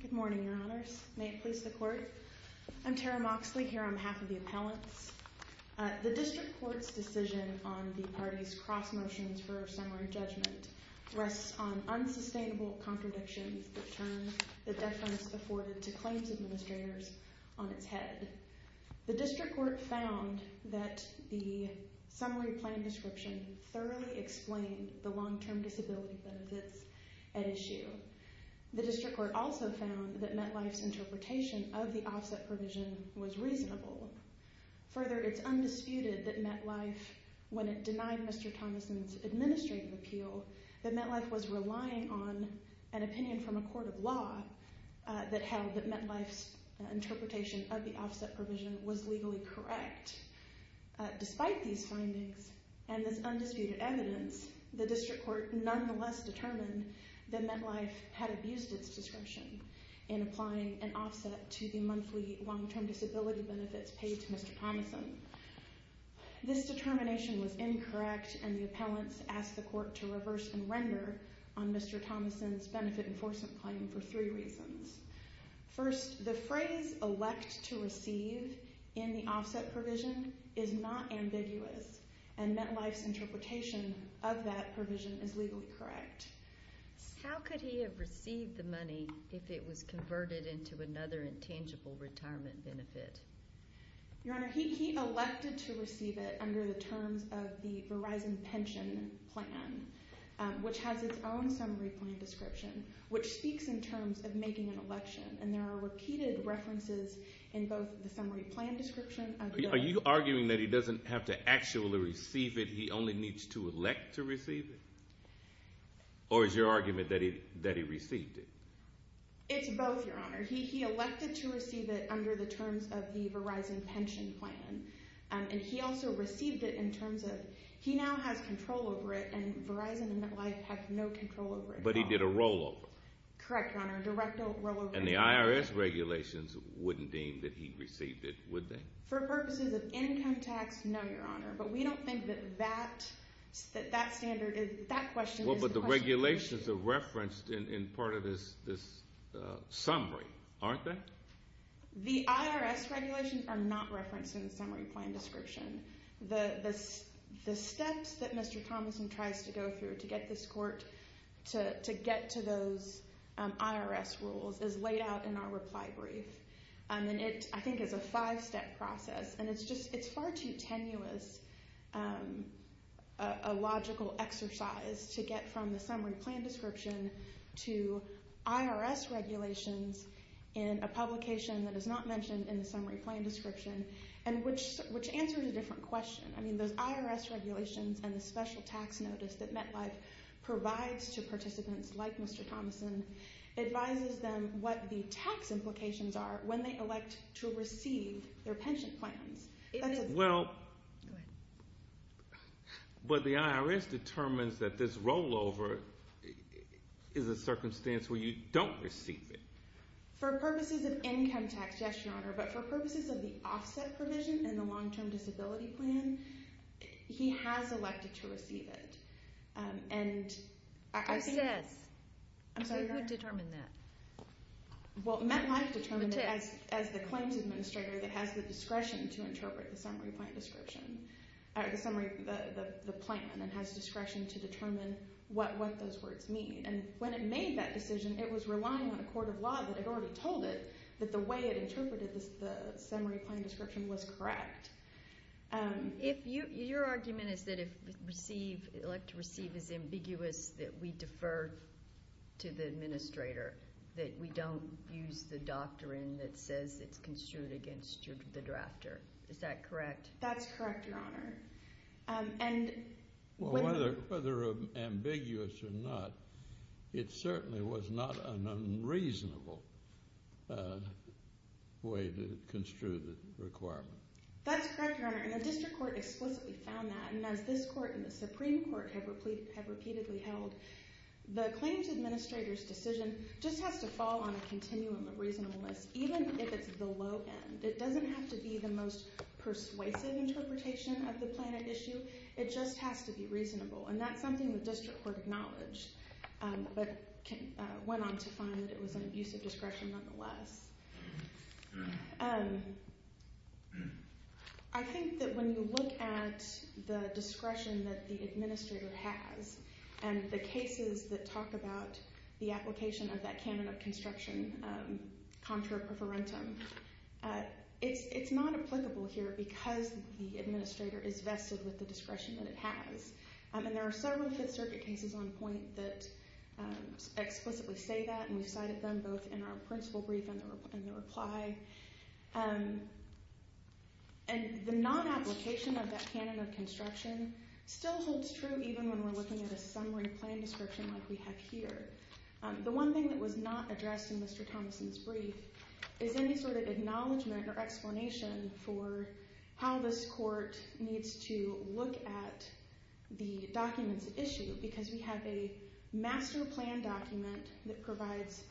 Good morning, Your Honors. May it please the Court. I'm Tara Moxley, here on behalf of the appellants. The District Court's decision on the party's cross-motions for summary judgment rests on unsustainable contradictions that turn the deference afforded to claims administrators on its head. The District Court found that the summary plan description thoroughly explained the long-term disability benefits at issue. The District Court also found that MetLife's interpretation of the offset provision was reasonable. Further, it's undisputed that MetLife, when it denied Mr. Thomason's administrative appeal, that MetLife was relying on an opinion from a court of law that held that MetLife's interpretation of the offset provision was legally correct. Despite these findings and this undisputed evidence, the District Court nonetheless determined that MetLife had abused its discretion in applying an offset to the monthly long-term disability benefits paid to Mr. Thomason. This determination was incorrect, and the appellants asked the Court to reverse and render on Mr. Thomason's benefit enforcement claim for three reasons. First, the phrase elect to receive in the offset provision is not ambiguous, and MetLife's interpretation of that provision is legally correct. How could he have received the money if it was converted into another intangible retirement benefit? Your Honor, he elected to receive it under the terms of the Verizon Pension Plan, which has its own summary plan description, which speaks in terms of making an election, and there are repeated references in both the summary plan description of the... Are you arguing that he doesn't have to actually receive it? He only needs to elect to receive it? Or is your argument that he received it? It's both, Your Honor. He elected to receive it under the terms of the Verizon Pension Plan, and he also received it in terms of... He now has control over it, and Verizon and MetLife have control over it. Correct, Your Honor. Directly... And the IRS regulations wouldn't deem that he received it, would they? For purposes of income tax, no, Your Honor, but we don't think that that standard is... That question is... Well, but the regulations are referenced in part of this summary, aren't they? The IRS regulations are not referenced in the summary plan description. The steps that Mr. Thomason tries to go through to get this court to get to those IRS rules is laid out in our reply brief, and it, I think, is a five-step process, and it's far too tenuous a logical exercise to get from the summary plan description to IRS regulations in a publication that is not mentioned in the summary plan description, and which answers a different question. I mean, those IRS regulations and the special tax notice that MetLife provides to participants like Mr. Thomason advises them what the tax implications are when they elect to receive their pension plans. That's a... Well... Go ahead. But the IRS determines that this rollover is a circumstance where you don't receive it. For purposes of income tax, yes, Your Honor, but for purposes of the offset provision in the long-term disability plan, he has elected to receive it, and I think... Who says? I'm sorry, Your Honor? Who determined that? Well, MetLife determined it as the claims administrator that has the discretion to interpret the summary plan description, or the summary, the plan, and has discretion to determine what those words mean, and when it made that decision, it was relying on a court of law that had already told it that the way it interpreted the summary plan description was correct. Your argument is that if receive, elect to receive is ambiguous, that we defer to the administrator, that we don't use the doctrine that says it's construed against the drafter. Is that correct? That's correct, Your Honor. Whether ambiguous or not, it certainly was not an unreasonable way to construe the requirement. That's correct, Your Honor, and the district court explicitly found that, and as this court and the Supreme Court have repeatedly held, the claims administrator's decision just has to fall on a continuum of reasonableness, even if it's the low end. It doesn't have to be the most persuasive interpretation of the plan at issue, it just has to be reasonable, and that's something the district court acknowledged, but went on to find that it was an abusive discretion nonetheless. I think that when you look at the discretion that the administrator has, and the cases that talk about the application of that canon of construction, contra preferentum, it's not applicable here because the administrator is vested with the discretion that it has, and there are several Fifth Circuit cases on point that explicitly say that, and we've cited them both in our principle brief and the reply, and the non-application of that canon of construction still holds true even when we're looking at a summary plan description like we have here. The one thing that was not addressed in Mr. Thomason's brief is any sort of acknowledgement or explanation for how this court needs to look at the documents at issue, because we have a master plan document that provides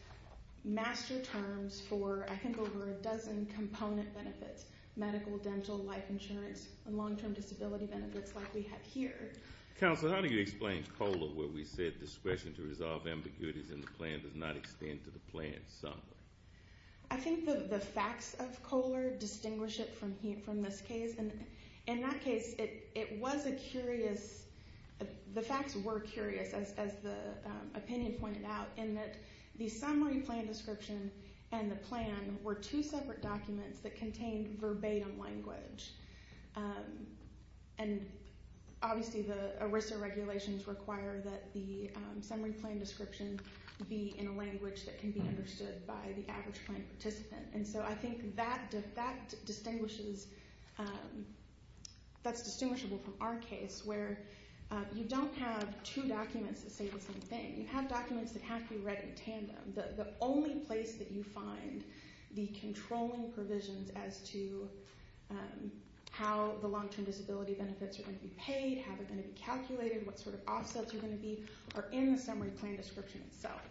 master terms for, I think, over a dozen component benefits, medical, dental, life insurance, and long-term disability benefits like we have here. Counselor, how do you explain COLA, where we said discretion to resolve ambiguities in the plan does not extend to the plan summary? I think that the facts of COLA distinguish it from this case, and in that case, it was a curious, the facts were curious, as the opinion pointed out, in that the summary plan description and the obviously the ERISA regulations require that the summary plan description be in a language that can be understood by the average plan participant, and so I think that distinguishes, that's distinguishable from our case where you don't have two documents that say the same thing. You have documents that have to be read in tandem. The only place that you find the be calculated, what sort of offsets are going to be, are in the summary plan description itself.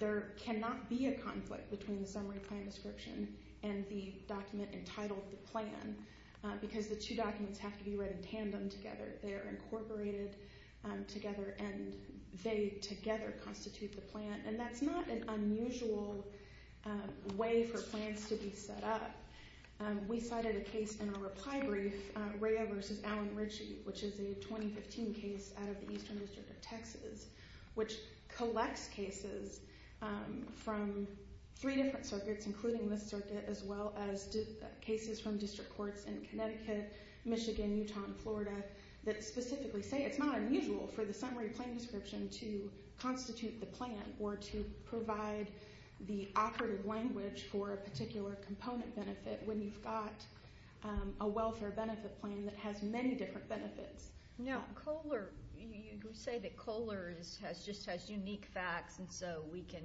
There cannot be a conflict between the summary plan description and the document entitled the plan, because the two documents have to be read in tandem together. They are incorporated together, and they together constitute the plan, and that's not an unusual way for Raya v. Allen Ritchie, which is a 2015 case out of the Eastern District of Texas, which collects cases from three different circuits, including this circuit, as well as cases from district courts in Connecticut, Michigan, Utah, and Florida, that specifically say it's not unusual for the summary plan description to constitute the plan, or to provide the operative language for a particular component benefit when you've got a welfare benefit plan that has many different benefits. Now, Kohler, you say that Kohler just has unique facts, and so we can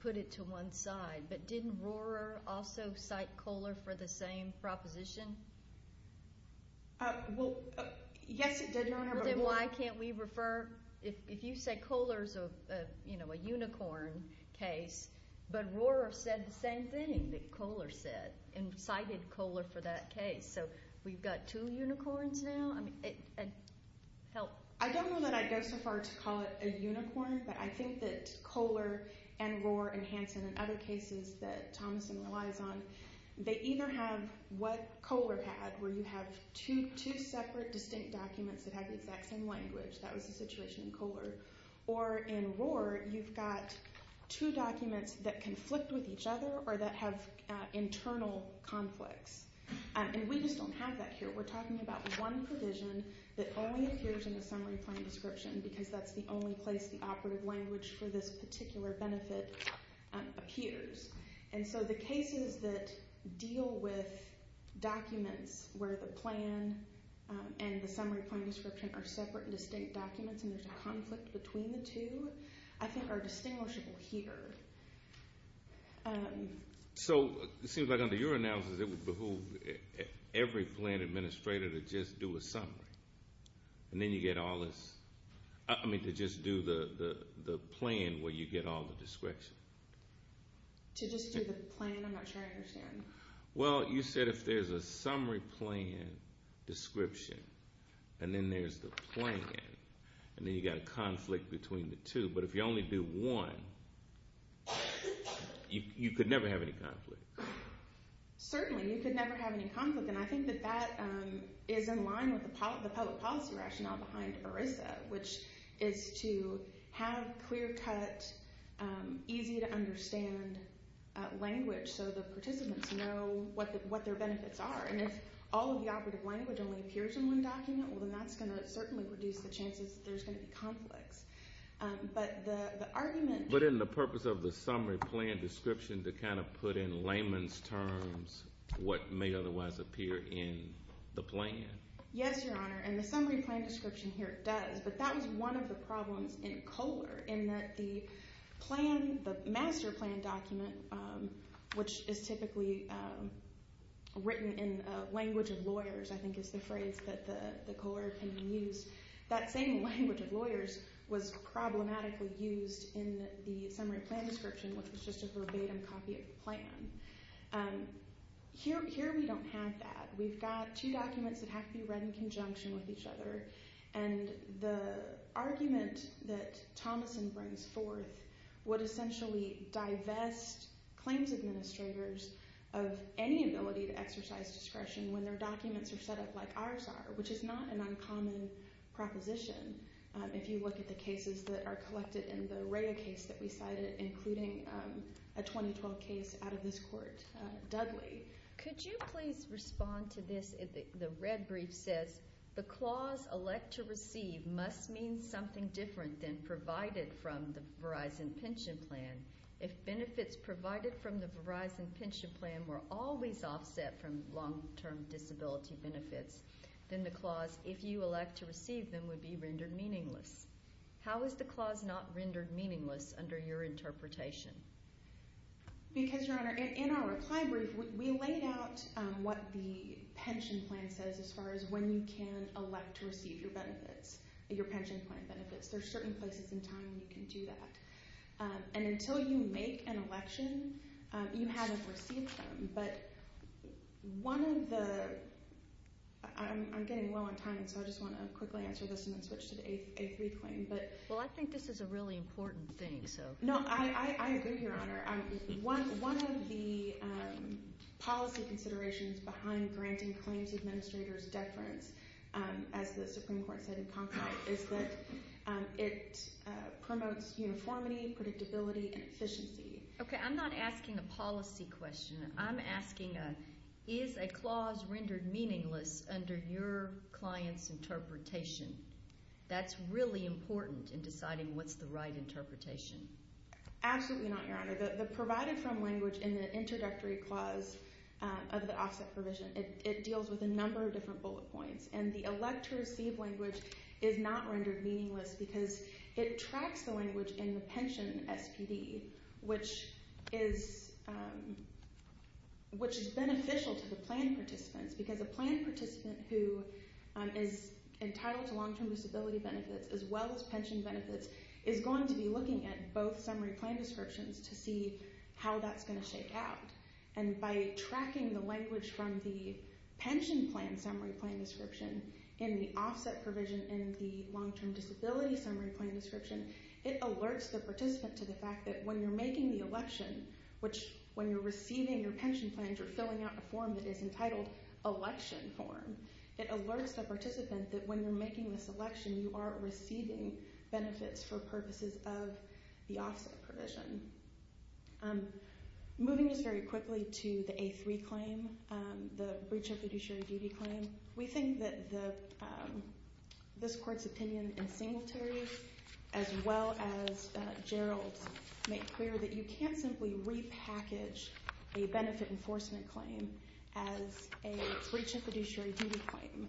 put it to one side, but didn't Rohrer also cite Kohler for the same proposition? Well, yes it did. Then why can't we refer, if you say Kohler's a unicorn case, but Rohrer said the same thing that Kohler said, and cited Kohler for that case, so we've got two unicorns now? I don't know that I'd go so far to call it a unicorn, but I think that Kohler and Rohrer and Hanson and other cases that Thomason relies on, they either have what Kohler had, where you have two separate, distinct documents that have the exact same language. That was the situation in Kohler. Or in Rohrer, you've got two documents that conflict with each other, or that have internal conflicts, and we just don't have that here. We're talking about one provision that only appears in the summary plan description, because that's the only place the operative language for this particular benefit appears. And so the cases that deal with documents where the plan and the summary plan description are separate and distinct documents, and there's a conflict between the two, I think are distinguishable here. So it seems like under your analysis, it would behoove every plan administrator to just do a summary, and then you get all this, I mean to just do the plan where you get all the description. To just do the plan, I'm not sure I understand. Well, you said if there's a summary plan description, and then there's the plan, and then you've got a conflict between the two, but if you only do one, you could never have any conflict. Certainly, you could never have any conflict, and I think that that is in line with the easy to understand language, so the participants know what their benefits are. And if all of the operative language only appears in one document, well, then that's going to certainly reduce the chances that there's going to be conflicts. But the argument... But in the purpose of the summary plan description to kind of put in layman's terms what may otherwise appear in the plan. Yes, Your Honor, and the summary plan description here does, but that was one of the problems in Kohler, in that the plan, the master plan document, which is typically written in language of lawyers, I think is the phrase that the Kohler opinion used, that same language of lawyers was problematically used in the summary plan description, which was just a verbatim copy of the plan. Here we don't have that. We've got two documents that have to be read in conjunction with each other, and the argument that Thomason brings forth would essentially divest claims administrators of any ability to exercise discretion when their documents are set up like ours are, which is not an uncommon proposition if you look at the cases that are collected in the Rhea case that we cited, including a 2012 case out of this court, Dudley. Could you please respond to this? The red brief says, the clause elect to receive must mean something different than provided from the Verizon pension plan. If benefits provided from the Verizon pension plan were always offset from long-term disability benefits, then the clause, if you elect to receive them, would be rendered meaningless. How is the clause not rendered meaningless under your interpretation? Because, Your Honor, in our reply brief, we laid out what the pension plan says as far as when you can elect to receive your benefits, your pension plan benefits. There are certain places in time you can do that. And until you make an election, you haven't received them. But one of the... I'm getting well on time, so I just want to quickly answer this and then switch to the A3 claim. Well, I think this is a really important thing. No, I agree, Your Honor. One of the policy considerations behind granting claims administrators deference, as the Supreme Court said in Congress, is that it promotes uniformity, predictability, and efficiency. Okay, I'm not asking a policy question. I'm asking, is a clause rendered meaningless under your client's interpretation? That's really important in deciding what's the right interpretation. Absolutely not, Your Honor. The provided from language in the introductory clause of the offset provision, it deals with a number of different bullet points. And the elect to receive language is not rendered meaningless because it tracks the language in the pension SPD, which is beneficial to the plan participants. Because a plan participant who is entitled to long-term disability benefits, as well as pension benefits, is going to be looking at both summary plan descriptions to see how that's going to shake out. And by tracking the language from the pension plan summary plan description in the offset provision in the long-term disability summary plan description, it alerts the participant to the fact that when you're making the election, which when you're receiving your pension plans, you're filling out a form that is entitled election form. It alerts the participant that when you're making this election, you are receiving benefits for purposes of the offset provision. Moving just very quickly to the A3 claim, the breach of fiduciary duty claim, we think that this court's opinion in Singletary, as well as Gerald's, make clear that you can't simply repackage a benefit enforcement claim as a breach of fiduciary duty claim.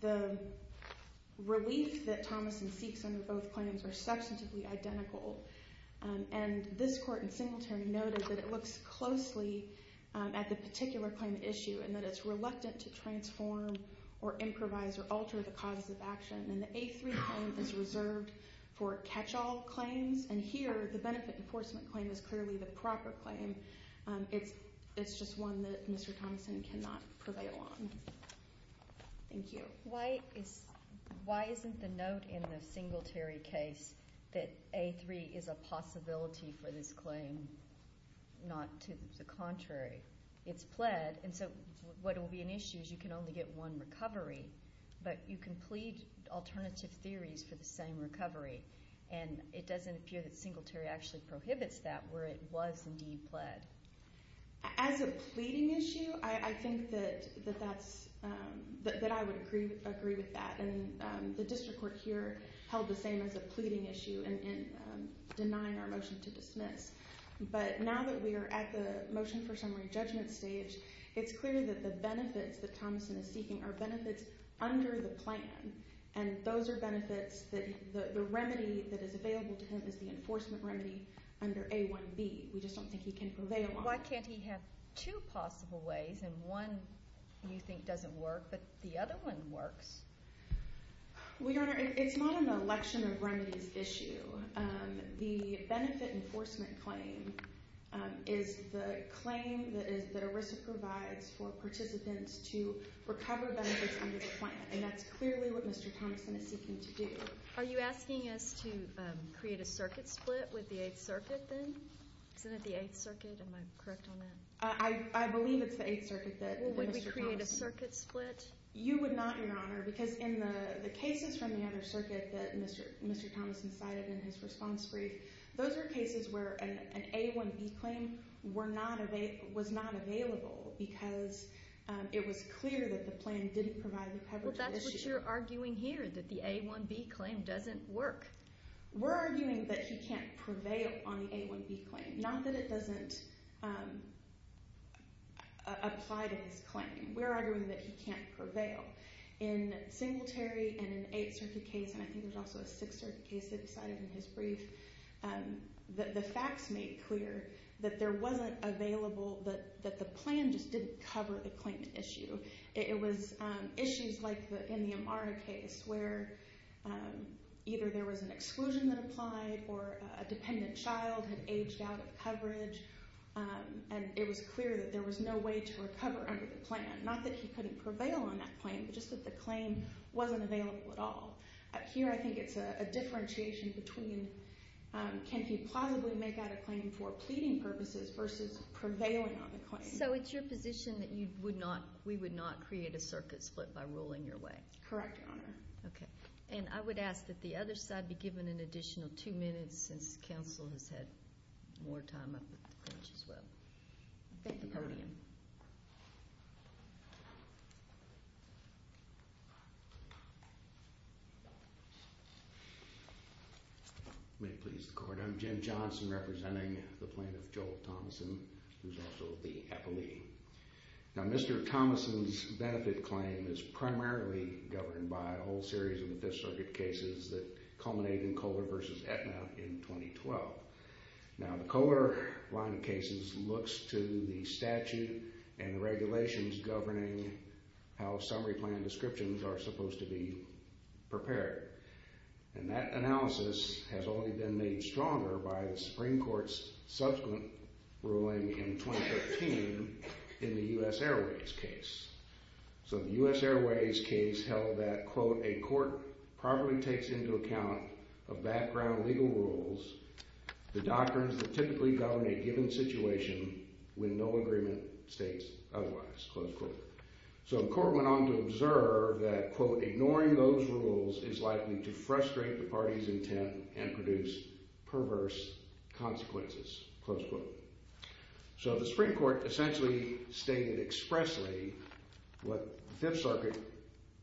The relief that Thomason seeks under both claims are substantively identical. And this court in Singletary noted that it looks closely at the particular claim issue and that it's reluctant to transform or improvise or alter the causes of action. And the A3 claim is reserved for catch-all claims. And here, the benefit enforcement claim is clearly the proper claim. It's just one that Mr. Thomason cannot prevail on. Thank you. Why isn't the note in the Singletary case that A3 is a possibility for this claim, not to the contrary? It's pled. And so what will be an issue is you can only get one recovery. But you can plead alternative theories for the same recovery. And it doesn't appear that Singletary actually prohibits that, where it was indeed pled. As a pleading issue, I think that I would agree with that. And the district court here held the same as a pleading issue in denying our motion to dismiss. But now that we are at the motion for summary judgment stage, it's clear that the benefits that Thomason is seeking are benefits under the plan. And those are benefits that the remedy that is available to him is the enforcement remedy under A1B. We just don't think he can prevail on it. Why can't he have two possible ways, and one you think doesn't work, but the other one works? Well, Your Honor, it's not an election of remedies issue. The benefit enforcement claim is the claim that ERISA provides for participants to recover benefits under the plan. And that's clearly what Mr. Thomason is seeking to do. Are you asking us to create a circuit split with the Eighth Circuit then? Isn't it the Eighth Circuit? Am I correct on that? I believe it's the Eighth Circuit that Mr. Thomason... Well, would we create a circuit split? You would not, Your Honor. Because in the cases from the other circuit that Mr. Thomason cited in his response brief, those were cases where an A1B claim was not available because it was clear that the plan didn't provide the coverage... Well, that's what you're arguing here, that the A1B claim doesn't work. We're arguing that he can't prevail on the A1B claim, not that it doesn't apply to his claim. We're arguing that he can't prevail. In Singletary and an Eighth Circuit case, and I think there was also a Sixth Circuit case that he cited in his brief, the facts made clear that there wasn't available... that the plan just didn't cover the claimant issue. It was issues like in the Amara case where either there was an exclusion that applied or a dependent child had aged out of coverage, and it was clear that there was no way to recover under the plan. Not that he couldn't prevail on that claim, but just that the claim wasn't available at all. Here I think it's a differentiation between can he plausibly make out a claim for pleading purposes versus prevailing on the claim. So it's your position that we would not create a circuit split by ruling your way? Correct, Your Honor. Okay. And I would ask that the other side be given an additional two minutes since counsel has had more time up at the bench as well. Thank you. Your Honor. May it please the Court. I'm Jim Johnson representing the plaintiff, Joel Thomason, who is also the appellee. Now Mr. Thomason's benefit claim is primarily governed by a whole series of the Fifth Circuit cases that culminated in Kohler v. Aetna in 2012. Now the Kohler line of cases looks to the statute and regulations governing how summary plan descriptions are supposed to be prepared. And that analysis has only been made stronger by the Supreme Court's subsequent ruling in 2013 in the U.S. Airways case. So the U.S. Airways case held that, quote, a court properly takes into account a background of legal rules, the doctrines that typically govern a given situation when no agreement states otherwise, close quote. So the court went on to observe that, quote, ignoring those rules is likely to frustrate the party's intent and produce perverse consequences, close quote. So the Supreme Court essentially stated expressly what the Fifth Circuit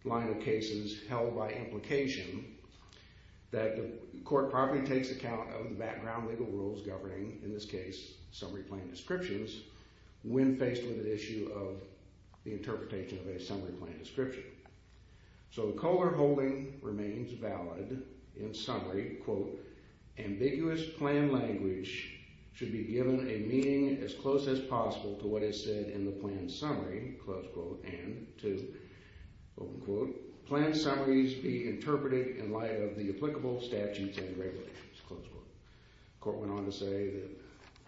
line of cases held by implication, that the court properly takes account of the background legal rules governing, in this case, summary plan descriptions when faced with an issue of the interpretation of a summary plan description. So Kohler holding remains valid in summary, quote, ambiguous plan language should be given a meaning as close as possible to what is said in the plan summary, close quote, and to, open quote, plan summaries be interpreted in light of the applicable statutes and regulations, close quote. The court went on to say that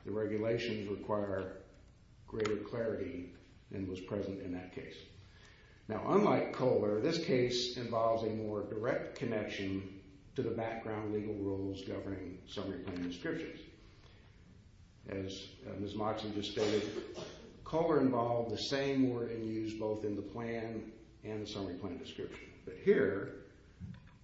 the regulations require greater clarity and was present in that case. Now, unlike Kohler, this case involves a more direct connection to the background legal rules governing summary plan descriptions. As Ms. Moxley just stated, Kohler involved the same wording used both in the plan and the summary plan description. But here,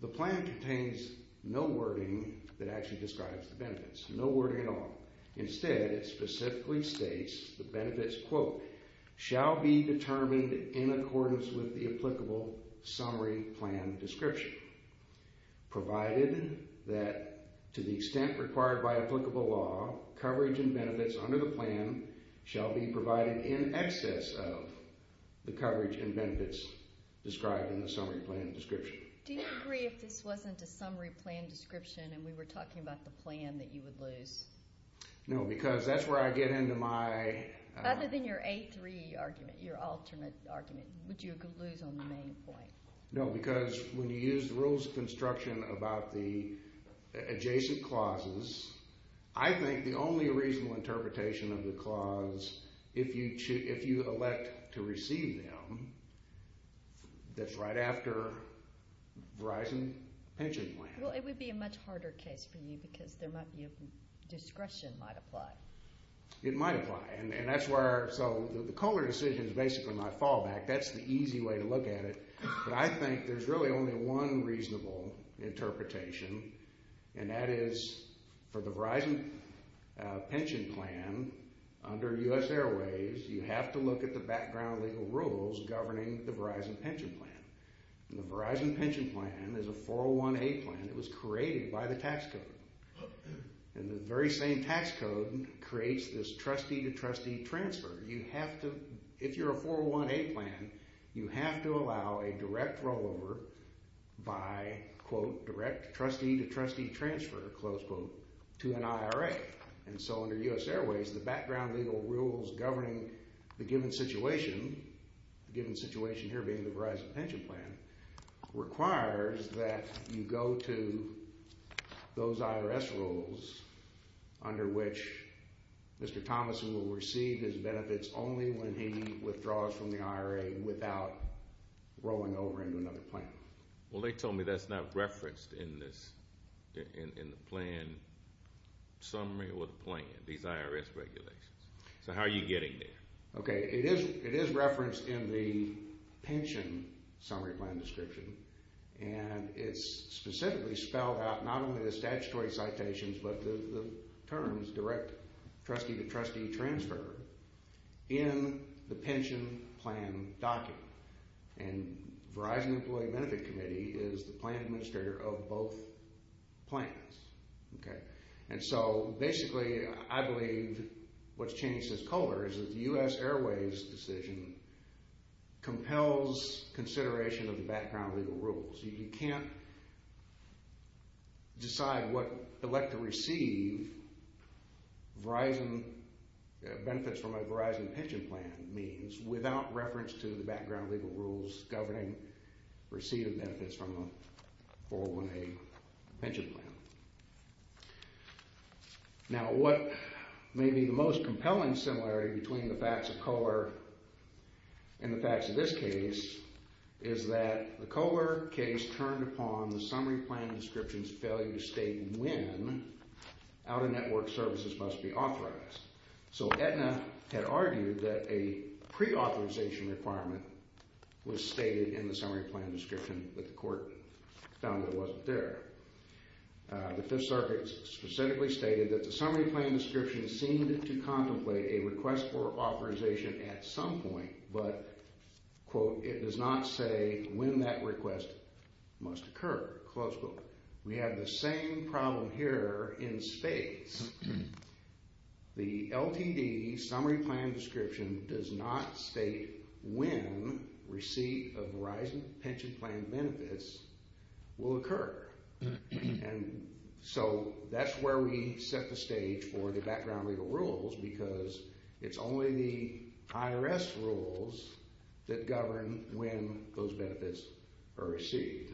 the plan contains no wording that actually describes the benefits, no wording at all. Instead, it specifically states the benefits, quote, shall be determined in accordance with the applicable summary plan description, provided that to the extent required by applicable law, coverage and benefits under the plan shall be provided in excess of the coverage and benefits described in the summary plan description. Do you agree if this wasn't a summary plan description and we were talking about the plan that you would lose? No, because that's where I get into my... Would you lose on the main point? No, because when you use the rules of construction about the adjacent clauses, I think the only reasonable interpretation of the clause, if you elect to receive them, that's right after Verizon Pension Plan. Well, it would be a much harder case for you because there might be a discretion might apply. It might apply. So the Kohler decision is basically my fallback. That's the easy way to look at it. But I think there's really only one reasonable interpretation, and that is for the Verizon Pension Plan under U.S. Airways, you have to look at the background legal rules governing the Verizon Pension Plan. The Verizon Pension Plan is a 401A plan. It was created by the tax code. And the very same tax code creates this trustee-to-trustee transfer. You have to... If you're a 401A plan, you have to allow a direct rollover by, quote, direct trustee-to-trustee transfer, close quote, to an IRA. And so under U.S. Airways, the background legal rules governing the given situation, the given situation here being the Verizon Pension Plan, requires that you go to those IRS rules under which Mr. Thomasson will receive his benefits only when he withdraws from the IRA without rolling over into another plan. Well, they told me that's not referenced in the plan summary or the plan, these IRS regulations. So how are you getting there? Okay, it is referenced in the pension summary plan description. And it's specifically spelled out, not only the statutory citations, but the terms, direct trustee-to-trustee transfer, in the pension plan document. And Verizon Employee Benefit Committee is the plan administrator of both plans. Okay. And so basically, I believe what's changed since COVID is that the U.S. Airways decision compels consideration of the background legal rules. You can't decide what elect to receive benefits from a Verizon Pension Plan means without reference to the background legal rules governing receiving benefits from a 401A pension plan. Now, what may be the most compelling similarity between the facts of Kohler and the facts of this case is that the Kohler case turned upon the summary plan description's failure to state when out-of-network services must be authorized. So Aetna had argued that a pre-authorization requirement was stated in the summary plan description, but the court found that it wasn't there. The Fifth Circuit specifically stated that the summary plan description seemed to contemplate a request for authorization at some point, but, quote, it does not say when that request must occur, close quote. We have the same problem here in states. The LTD summary plan description does not state when receipt of Verizon Pension Plan benefits will occur. And so that's where we set the stage for the background legal rules because it's only the IRS rules that govern when those benefits are received.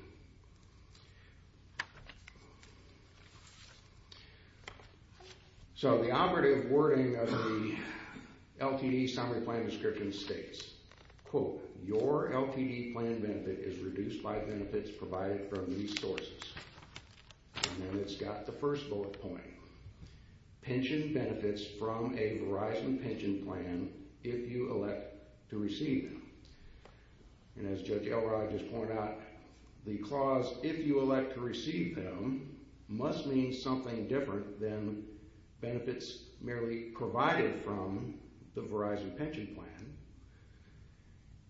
So the operative wording of the LTD summary plan description states, quote, your LTD plan benefit is reduced by benefits provided from these sources. And it's got the first bullet point. Pension benefits from a Verizon Pension Plan if you elect to receive them. And as Judge Elrod just pointed out, the clause, if you elect to receive them, must mean something different than benefits merely provided from the Verizon Pension Plan.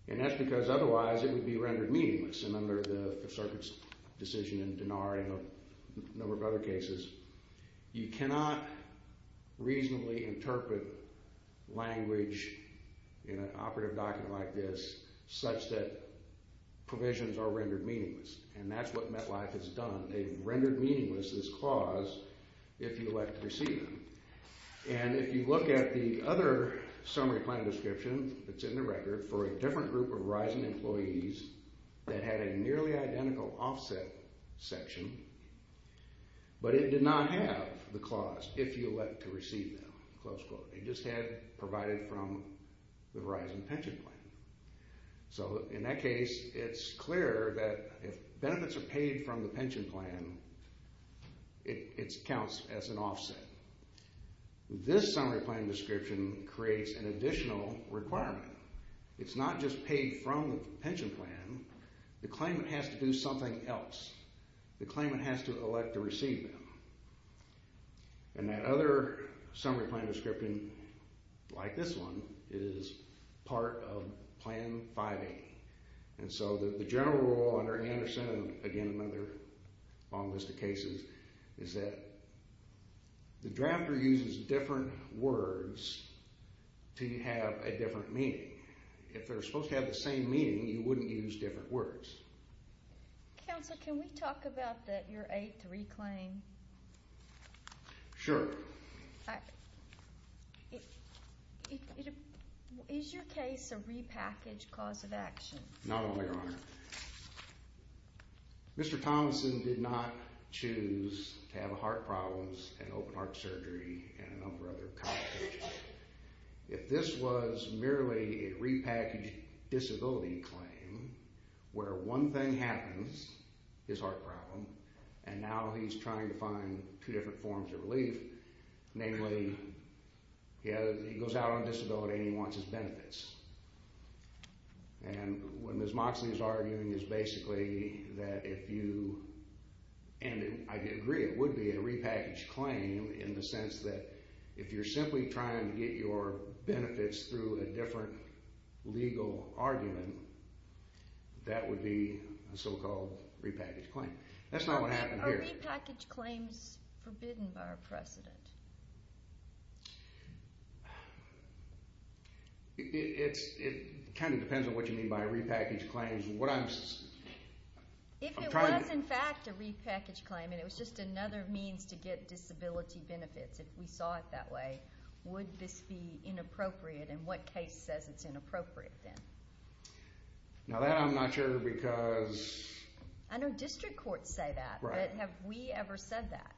And that's because otherwise it would be rendered meaningless. And under the Fifth Circuit's decision in Denari and a number of other cases, you cannot reasonably interpret language in an operative document like this such that provisions are rendered meaningless. And that's what MetLife has done. They've rendered meaningless this clause if you elect to receive them. And if you look at the other summary plan description, it's in the record, for a different group of Verizon employees that had a nearly identical offset section, but it did not have the clause, if you elect to receive them, close quote. It just had provided from the Verizon Pension Plan. So in that case, it's clear that if benefits are paid from the pension plan, it counts as an offset. This summary plan description creates an additional requirement. It's not just paid from the pension plan. The claimant has to do something else. The claimant has to elect to receive them. And that other summary plan description, like this one, is part of Plan 5A. And so the general rule under Anderson, again another long list of cases, is that the drafter uses different words to have a different meaning. If they're supposed to have the same meaning, you wouldn't use different words. Counsel, can we talk about that year 8 reclaim? Sure. Is your case a repackaged cause of action? Not only, Your Honor. Mr. Thomason did not choose to have heart problems and open heart surgery and a number of other complications. If this was merely a repackaged disability claim where one thing happens, his heart problem, and now he's trying to find two different forms of relief, namely he goes out on disability and he wants his benefits. And what Ms. Moxley is arguing is basically that if you, and I agree it would be a repackaged claim in the sense that if you're simply trying to get your benefits through a different legal argument, that would be a so-called repackaged claim. That's not what happened here. Are repackaged claims forbidden by our precedent? It kind of depends on what you mean by repackaged claims. If it was in fact a repackaged claim and it was just another means to get disability benefits, if we saw it that way, would this be inappropriate and what case says it's inappropriate then? Now that I'm not sure because... I know district courts say that, but have we ever said that?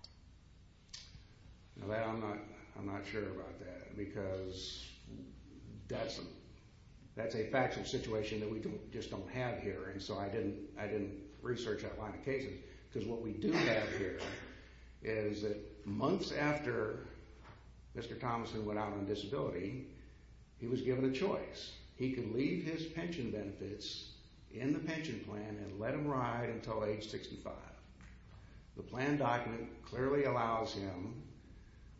I'm not sure about that because that's a factual situation that we just don't have here, and so I didn't research that line of cases. Because what we do have here is that months after Mr. Thomason went out on disability, he was given a choice. He could leave his pension benefits in the pension plan and let them ride until age 65. The plan document clearly allows him.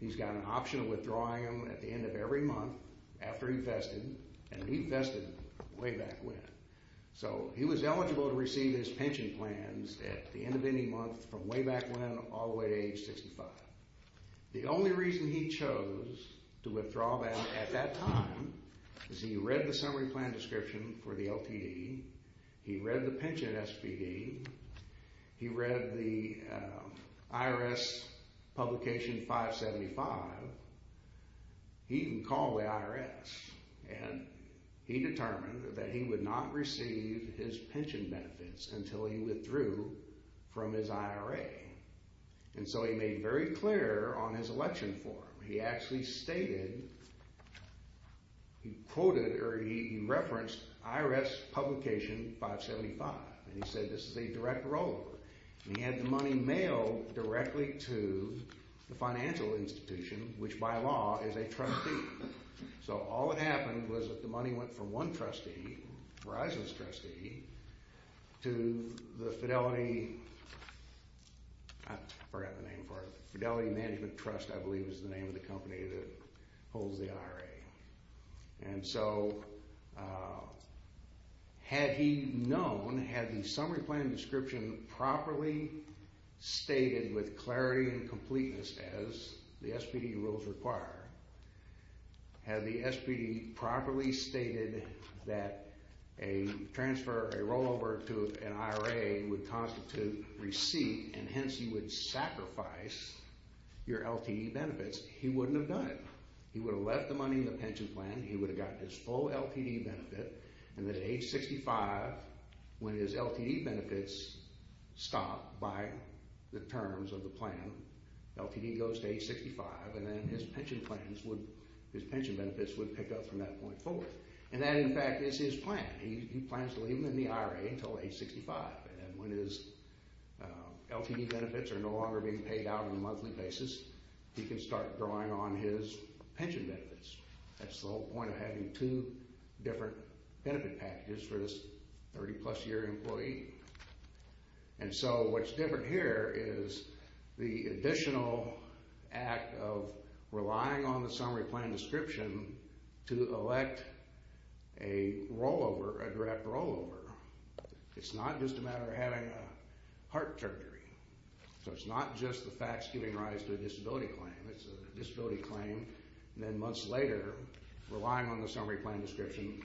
He's got an option of withdrawing them at the end of every month after he vested, and he vested way back when. So he was eligible to receive his pension plans at the end of any month from way back when all the way to age 65. The only reason he chose to withdraw them at that time is he read the summary plan description for the LTD. He read the pension SPD. He read the IRS publication 575. He even called the IRS, and he determined that he would not receive his pension benefits until he withdrew from his IRA. And so he made very clear on his election form. He actually stated, he quoted, or he referenced IRS publication 575, and he said this is a direct roller. And he had the money mailed directly to the financial institution, which by law is a trustee. So all that happened was that the money went from one trustee, Verizon's trustee, to the Fidelity, I forgot the name for it, Fidelity Management Trust, I believe is the name of the company that holds the IRA. And so had he known, had the summary plan description properly stated with clarity and completeness as the SPD rules require, had the SPD properly stated that a transfer, a rollover to an IRA would constitute receipt, and hence he would sacrifice your LTD benefits, he wouldn't have done it. He would have left the money in the pension plan. He would have gotten his full LTD benefit. And at age 65, when his LTD benefits stop by the terms of the plan, LTD goes to age 65, and then his pension plans would, his pension benefits would pick up from that point forward. And that, in fact, is his plan. He plans to leave him in the IRA until age 65. And when his LTD benefits are no longer being paid out on a monthly basis, he can start drawing on his pension benefits. That's the whole point of having two different benefit packages for this 30-plus-year employee. And so what's different here is the additional act of relying on the summary plan description to elect a rollover, a direct rollover. It's not just a matter of having a heart surgery. So it's not just the facts giving rise to a disability claim. It's a disability claim, and then months later, relying on the summary plan description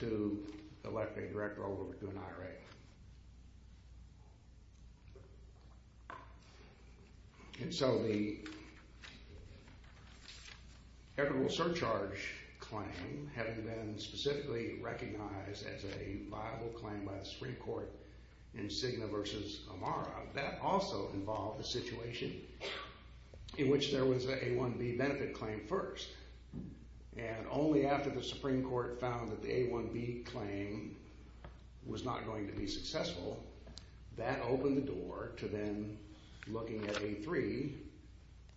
to elect a direct rollover to an IRA. And so the equitable surcharge claim, having been specifically recognized as a viable claim by the Supreme Court in Cigna v. Amara, that also involved a situation in which there was an A1B benefit claim first. And only after the Supreme Court found that the A1B claim was not going to be successful, that opened the door to then looking at A3,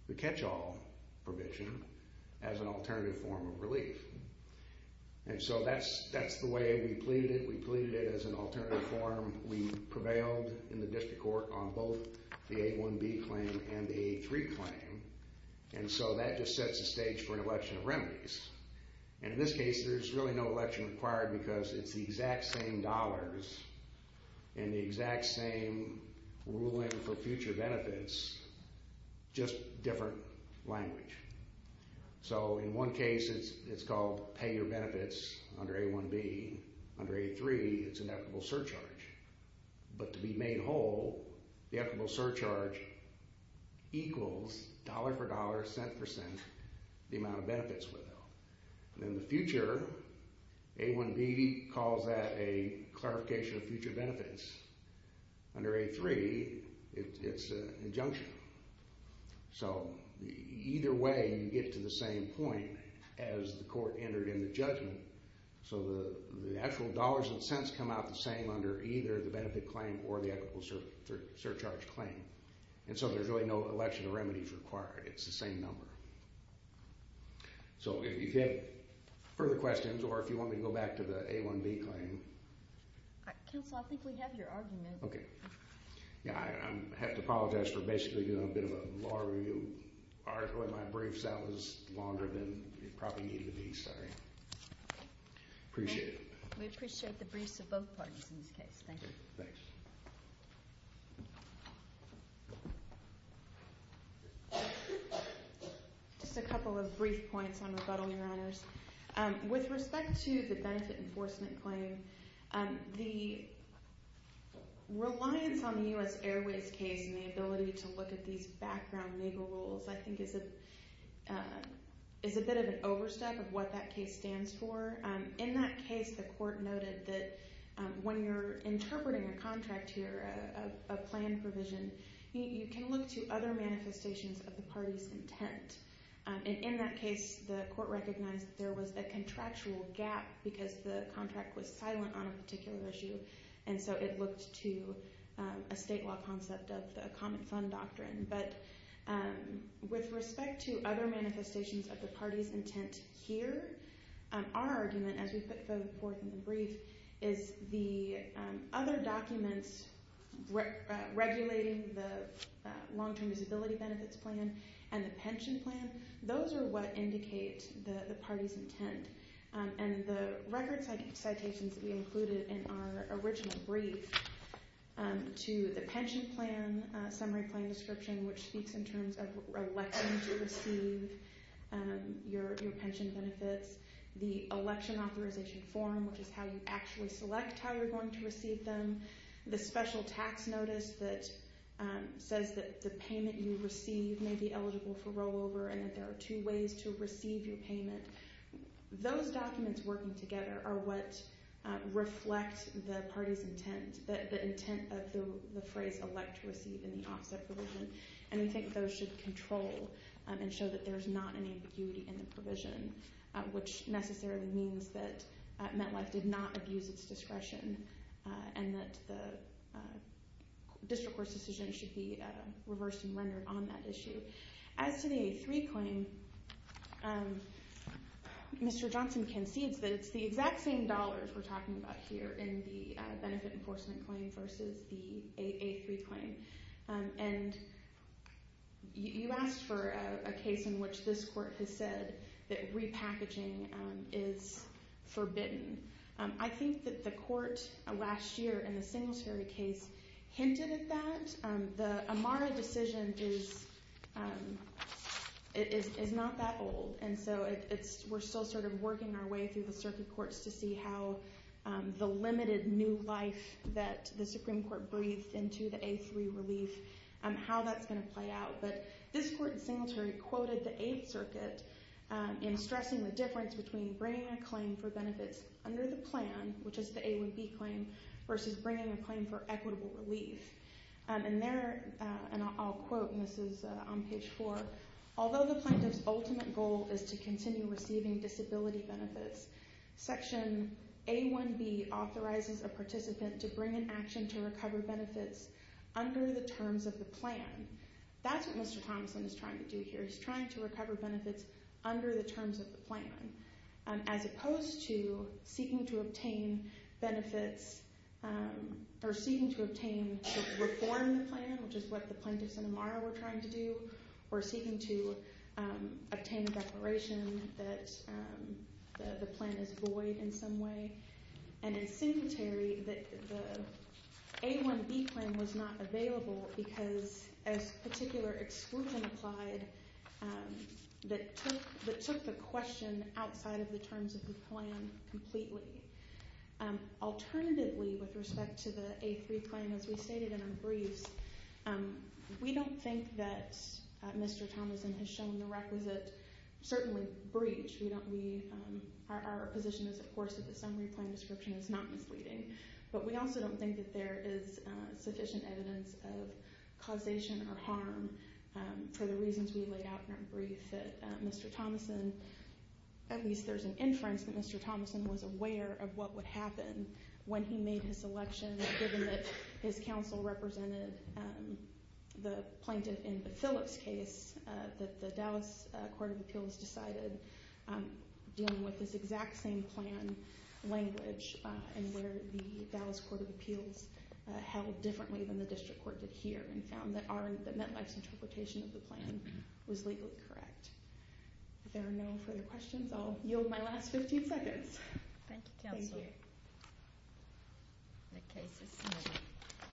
the catch-all provision, as an alternative form of relief. And so that's the way we pleaded it. We pleaded it as an alternative form. We prevailed in the district court on both the A1B claim and the A3 claim. And so that just sets the stage for an election of remedies. And in this case, there's really no election required because it's the exact same dollars and the exact same ruling for future benefits, just different language. So in one case, it's called pay your benefits under A1B. Under A3, it's an equitable surcharge. But to be made whole, the equitable surcharge equals dollar for dollar, cent for cent, the amount of benefits withheld. In the future, A1B calls that a clarification of future benefits. Under A3, it's an injunction. So either way, you get to the same point as the court entered in the judgment. So the actual dollars and cents come out the same under either the benefit claim or the equitable surcharge claim. And so there's really no election of remedies required. It's the same number. So if you have further questions or if you want me to go back to the A1B claim. Counsel, I think we have your argument. Okay. Yeah, I have to apologize for basically doing a bit of a long review. With my briefs, that was longer than it probably needed to be. Sorry. Okay. Appreciate it. We appreciate the briefs of both parties in this case. Thank you. Thanks. Just a couple of brief points on rebuttal, Your Honors. With respect to the benefit enforcement claim, the reliance on the U.S. Airways case and the ability to look at these background legal rules I think is a bit of an overstep of what that case stands for. In that case, the court noted that when you're interpreting a contract here, a plan provision, you can look to other manifestations of the party's intent. And in that case, the court recognized that there was a contractual gap because the contract was silent on a particular issue. And so it looked to a state law concept of the common fund doctrine. But with respect to other manifestations of the party's intent here, our argument, as we put forth in the brief, is the other documents regulating the long-term disability benefits plan and the pension plan, those are what indicate the party's intent. And the record citations that we included in our original brief to the pension plan summary plan description, which speaks in terms of electing to receive your pension benefits, the election authorization form, which is how you actually select how you're going to receive them, the special tax notice that says that the payment you receive may be eligible for rollover and that there are two ways to receive your payment, those documents working together are what reflect the party's intent, the intent of the phrase elect to receive in the offset provision. And we think those should control and show that there's not any ambiguity in the provision, which necessarily means that MetLife did not abuse its discretion and that the district court's decision should be reversed and rendered on that issue. As to the A3 claim, Mr. Johnson concedes that it's the exact same dollars we're talking about here in the benefit enforcement claim versus the A3 claim. And you asked for a case in which this court has said that repackaging is forbidden. I think that the court last year in the Singletary case hinted at that. The Amara decision is not that old, and so we're still sort of working our way through the circuit courts to see how the limited new life that the Supreme Court breathed into the A3 relief, how that's going to play out. But this court in Singletary quoted the Eighth Circuit in stressing the difference between bringing a claim for benefits under the plan, which is the A1B claim, versus bringing a claim for equitable relief. And there, and I'll quote, and this is on page four, although the plaintiff's ultimate goal is to continue receiving disability benefits, section A1B authorizes a participant to bring an action to recover benefits under the terms of the plan. That's what Mr. Thomson is trying to do here. He's trying to recover benefits under the terms of the plan, as opposed to seeking to obtain benefits or seeking to obtain to reform the plan, which is what the plaintiffs in Amara were trying to do, or seeking to obtain a declaration that the plan is void in some way. And in Singletary, the A1B claim was not available because a particular exclusion applied that took the question outside of the terms of the plan completely. Alternatively, with respect to the A3 claim, as we stated in our briefs, we don't think that Mr. Thomson has shown the requisite, certainly, breach. Our position is, of course, that the summary plan description is not misleading. But we also don't think that there is sufficient evidence of causation or harm for the reasons we laid out in our brief that Mr. Thomson, at least there's an inference that Mr. Thomson was aware of what would happen when he made his selection, given that his counsel represented the plaintiff in the Phillips case, that the Dallas Court of Appeals decided dealing with this exact same plan language and where the Dallas Court of Appeals held differently than the district court did here and found that MetLife's interpretation of the plan was legally correct. If there are no further questions, I'll yield my last 15 seconds. Thank you, counsel. Thank you. The case is submitted.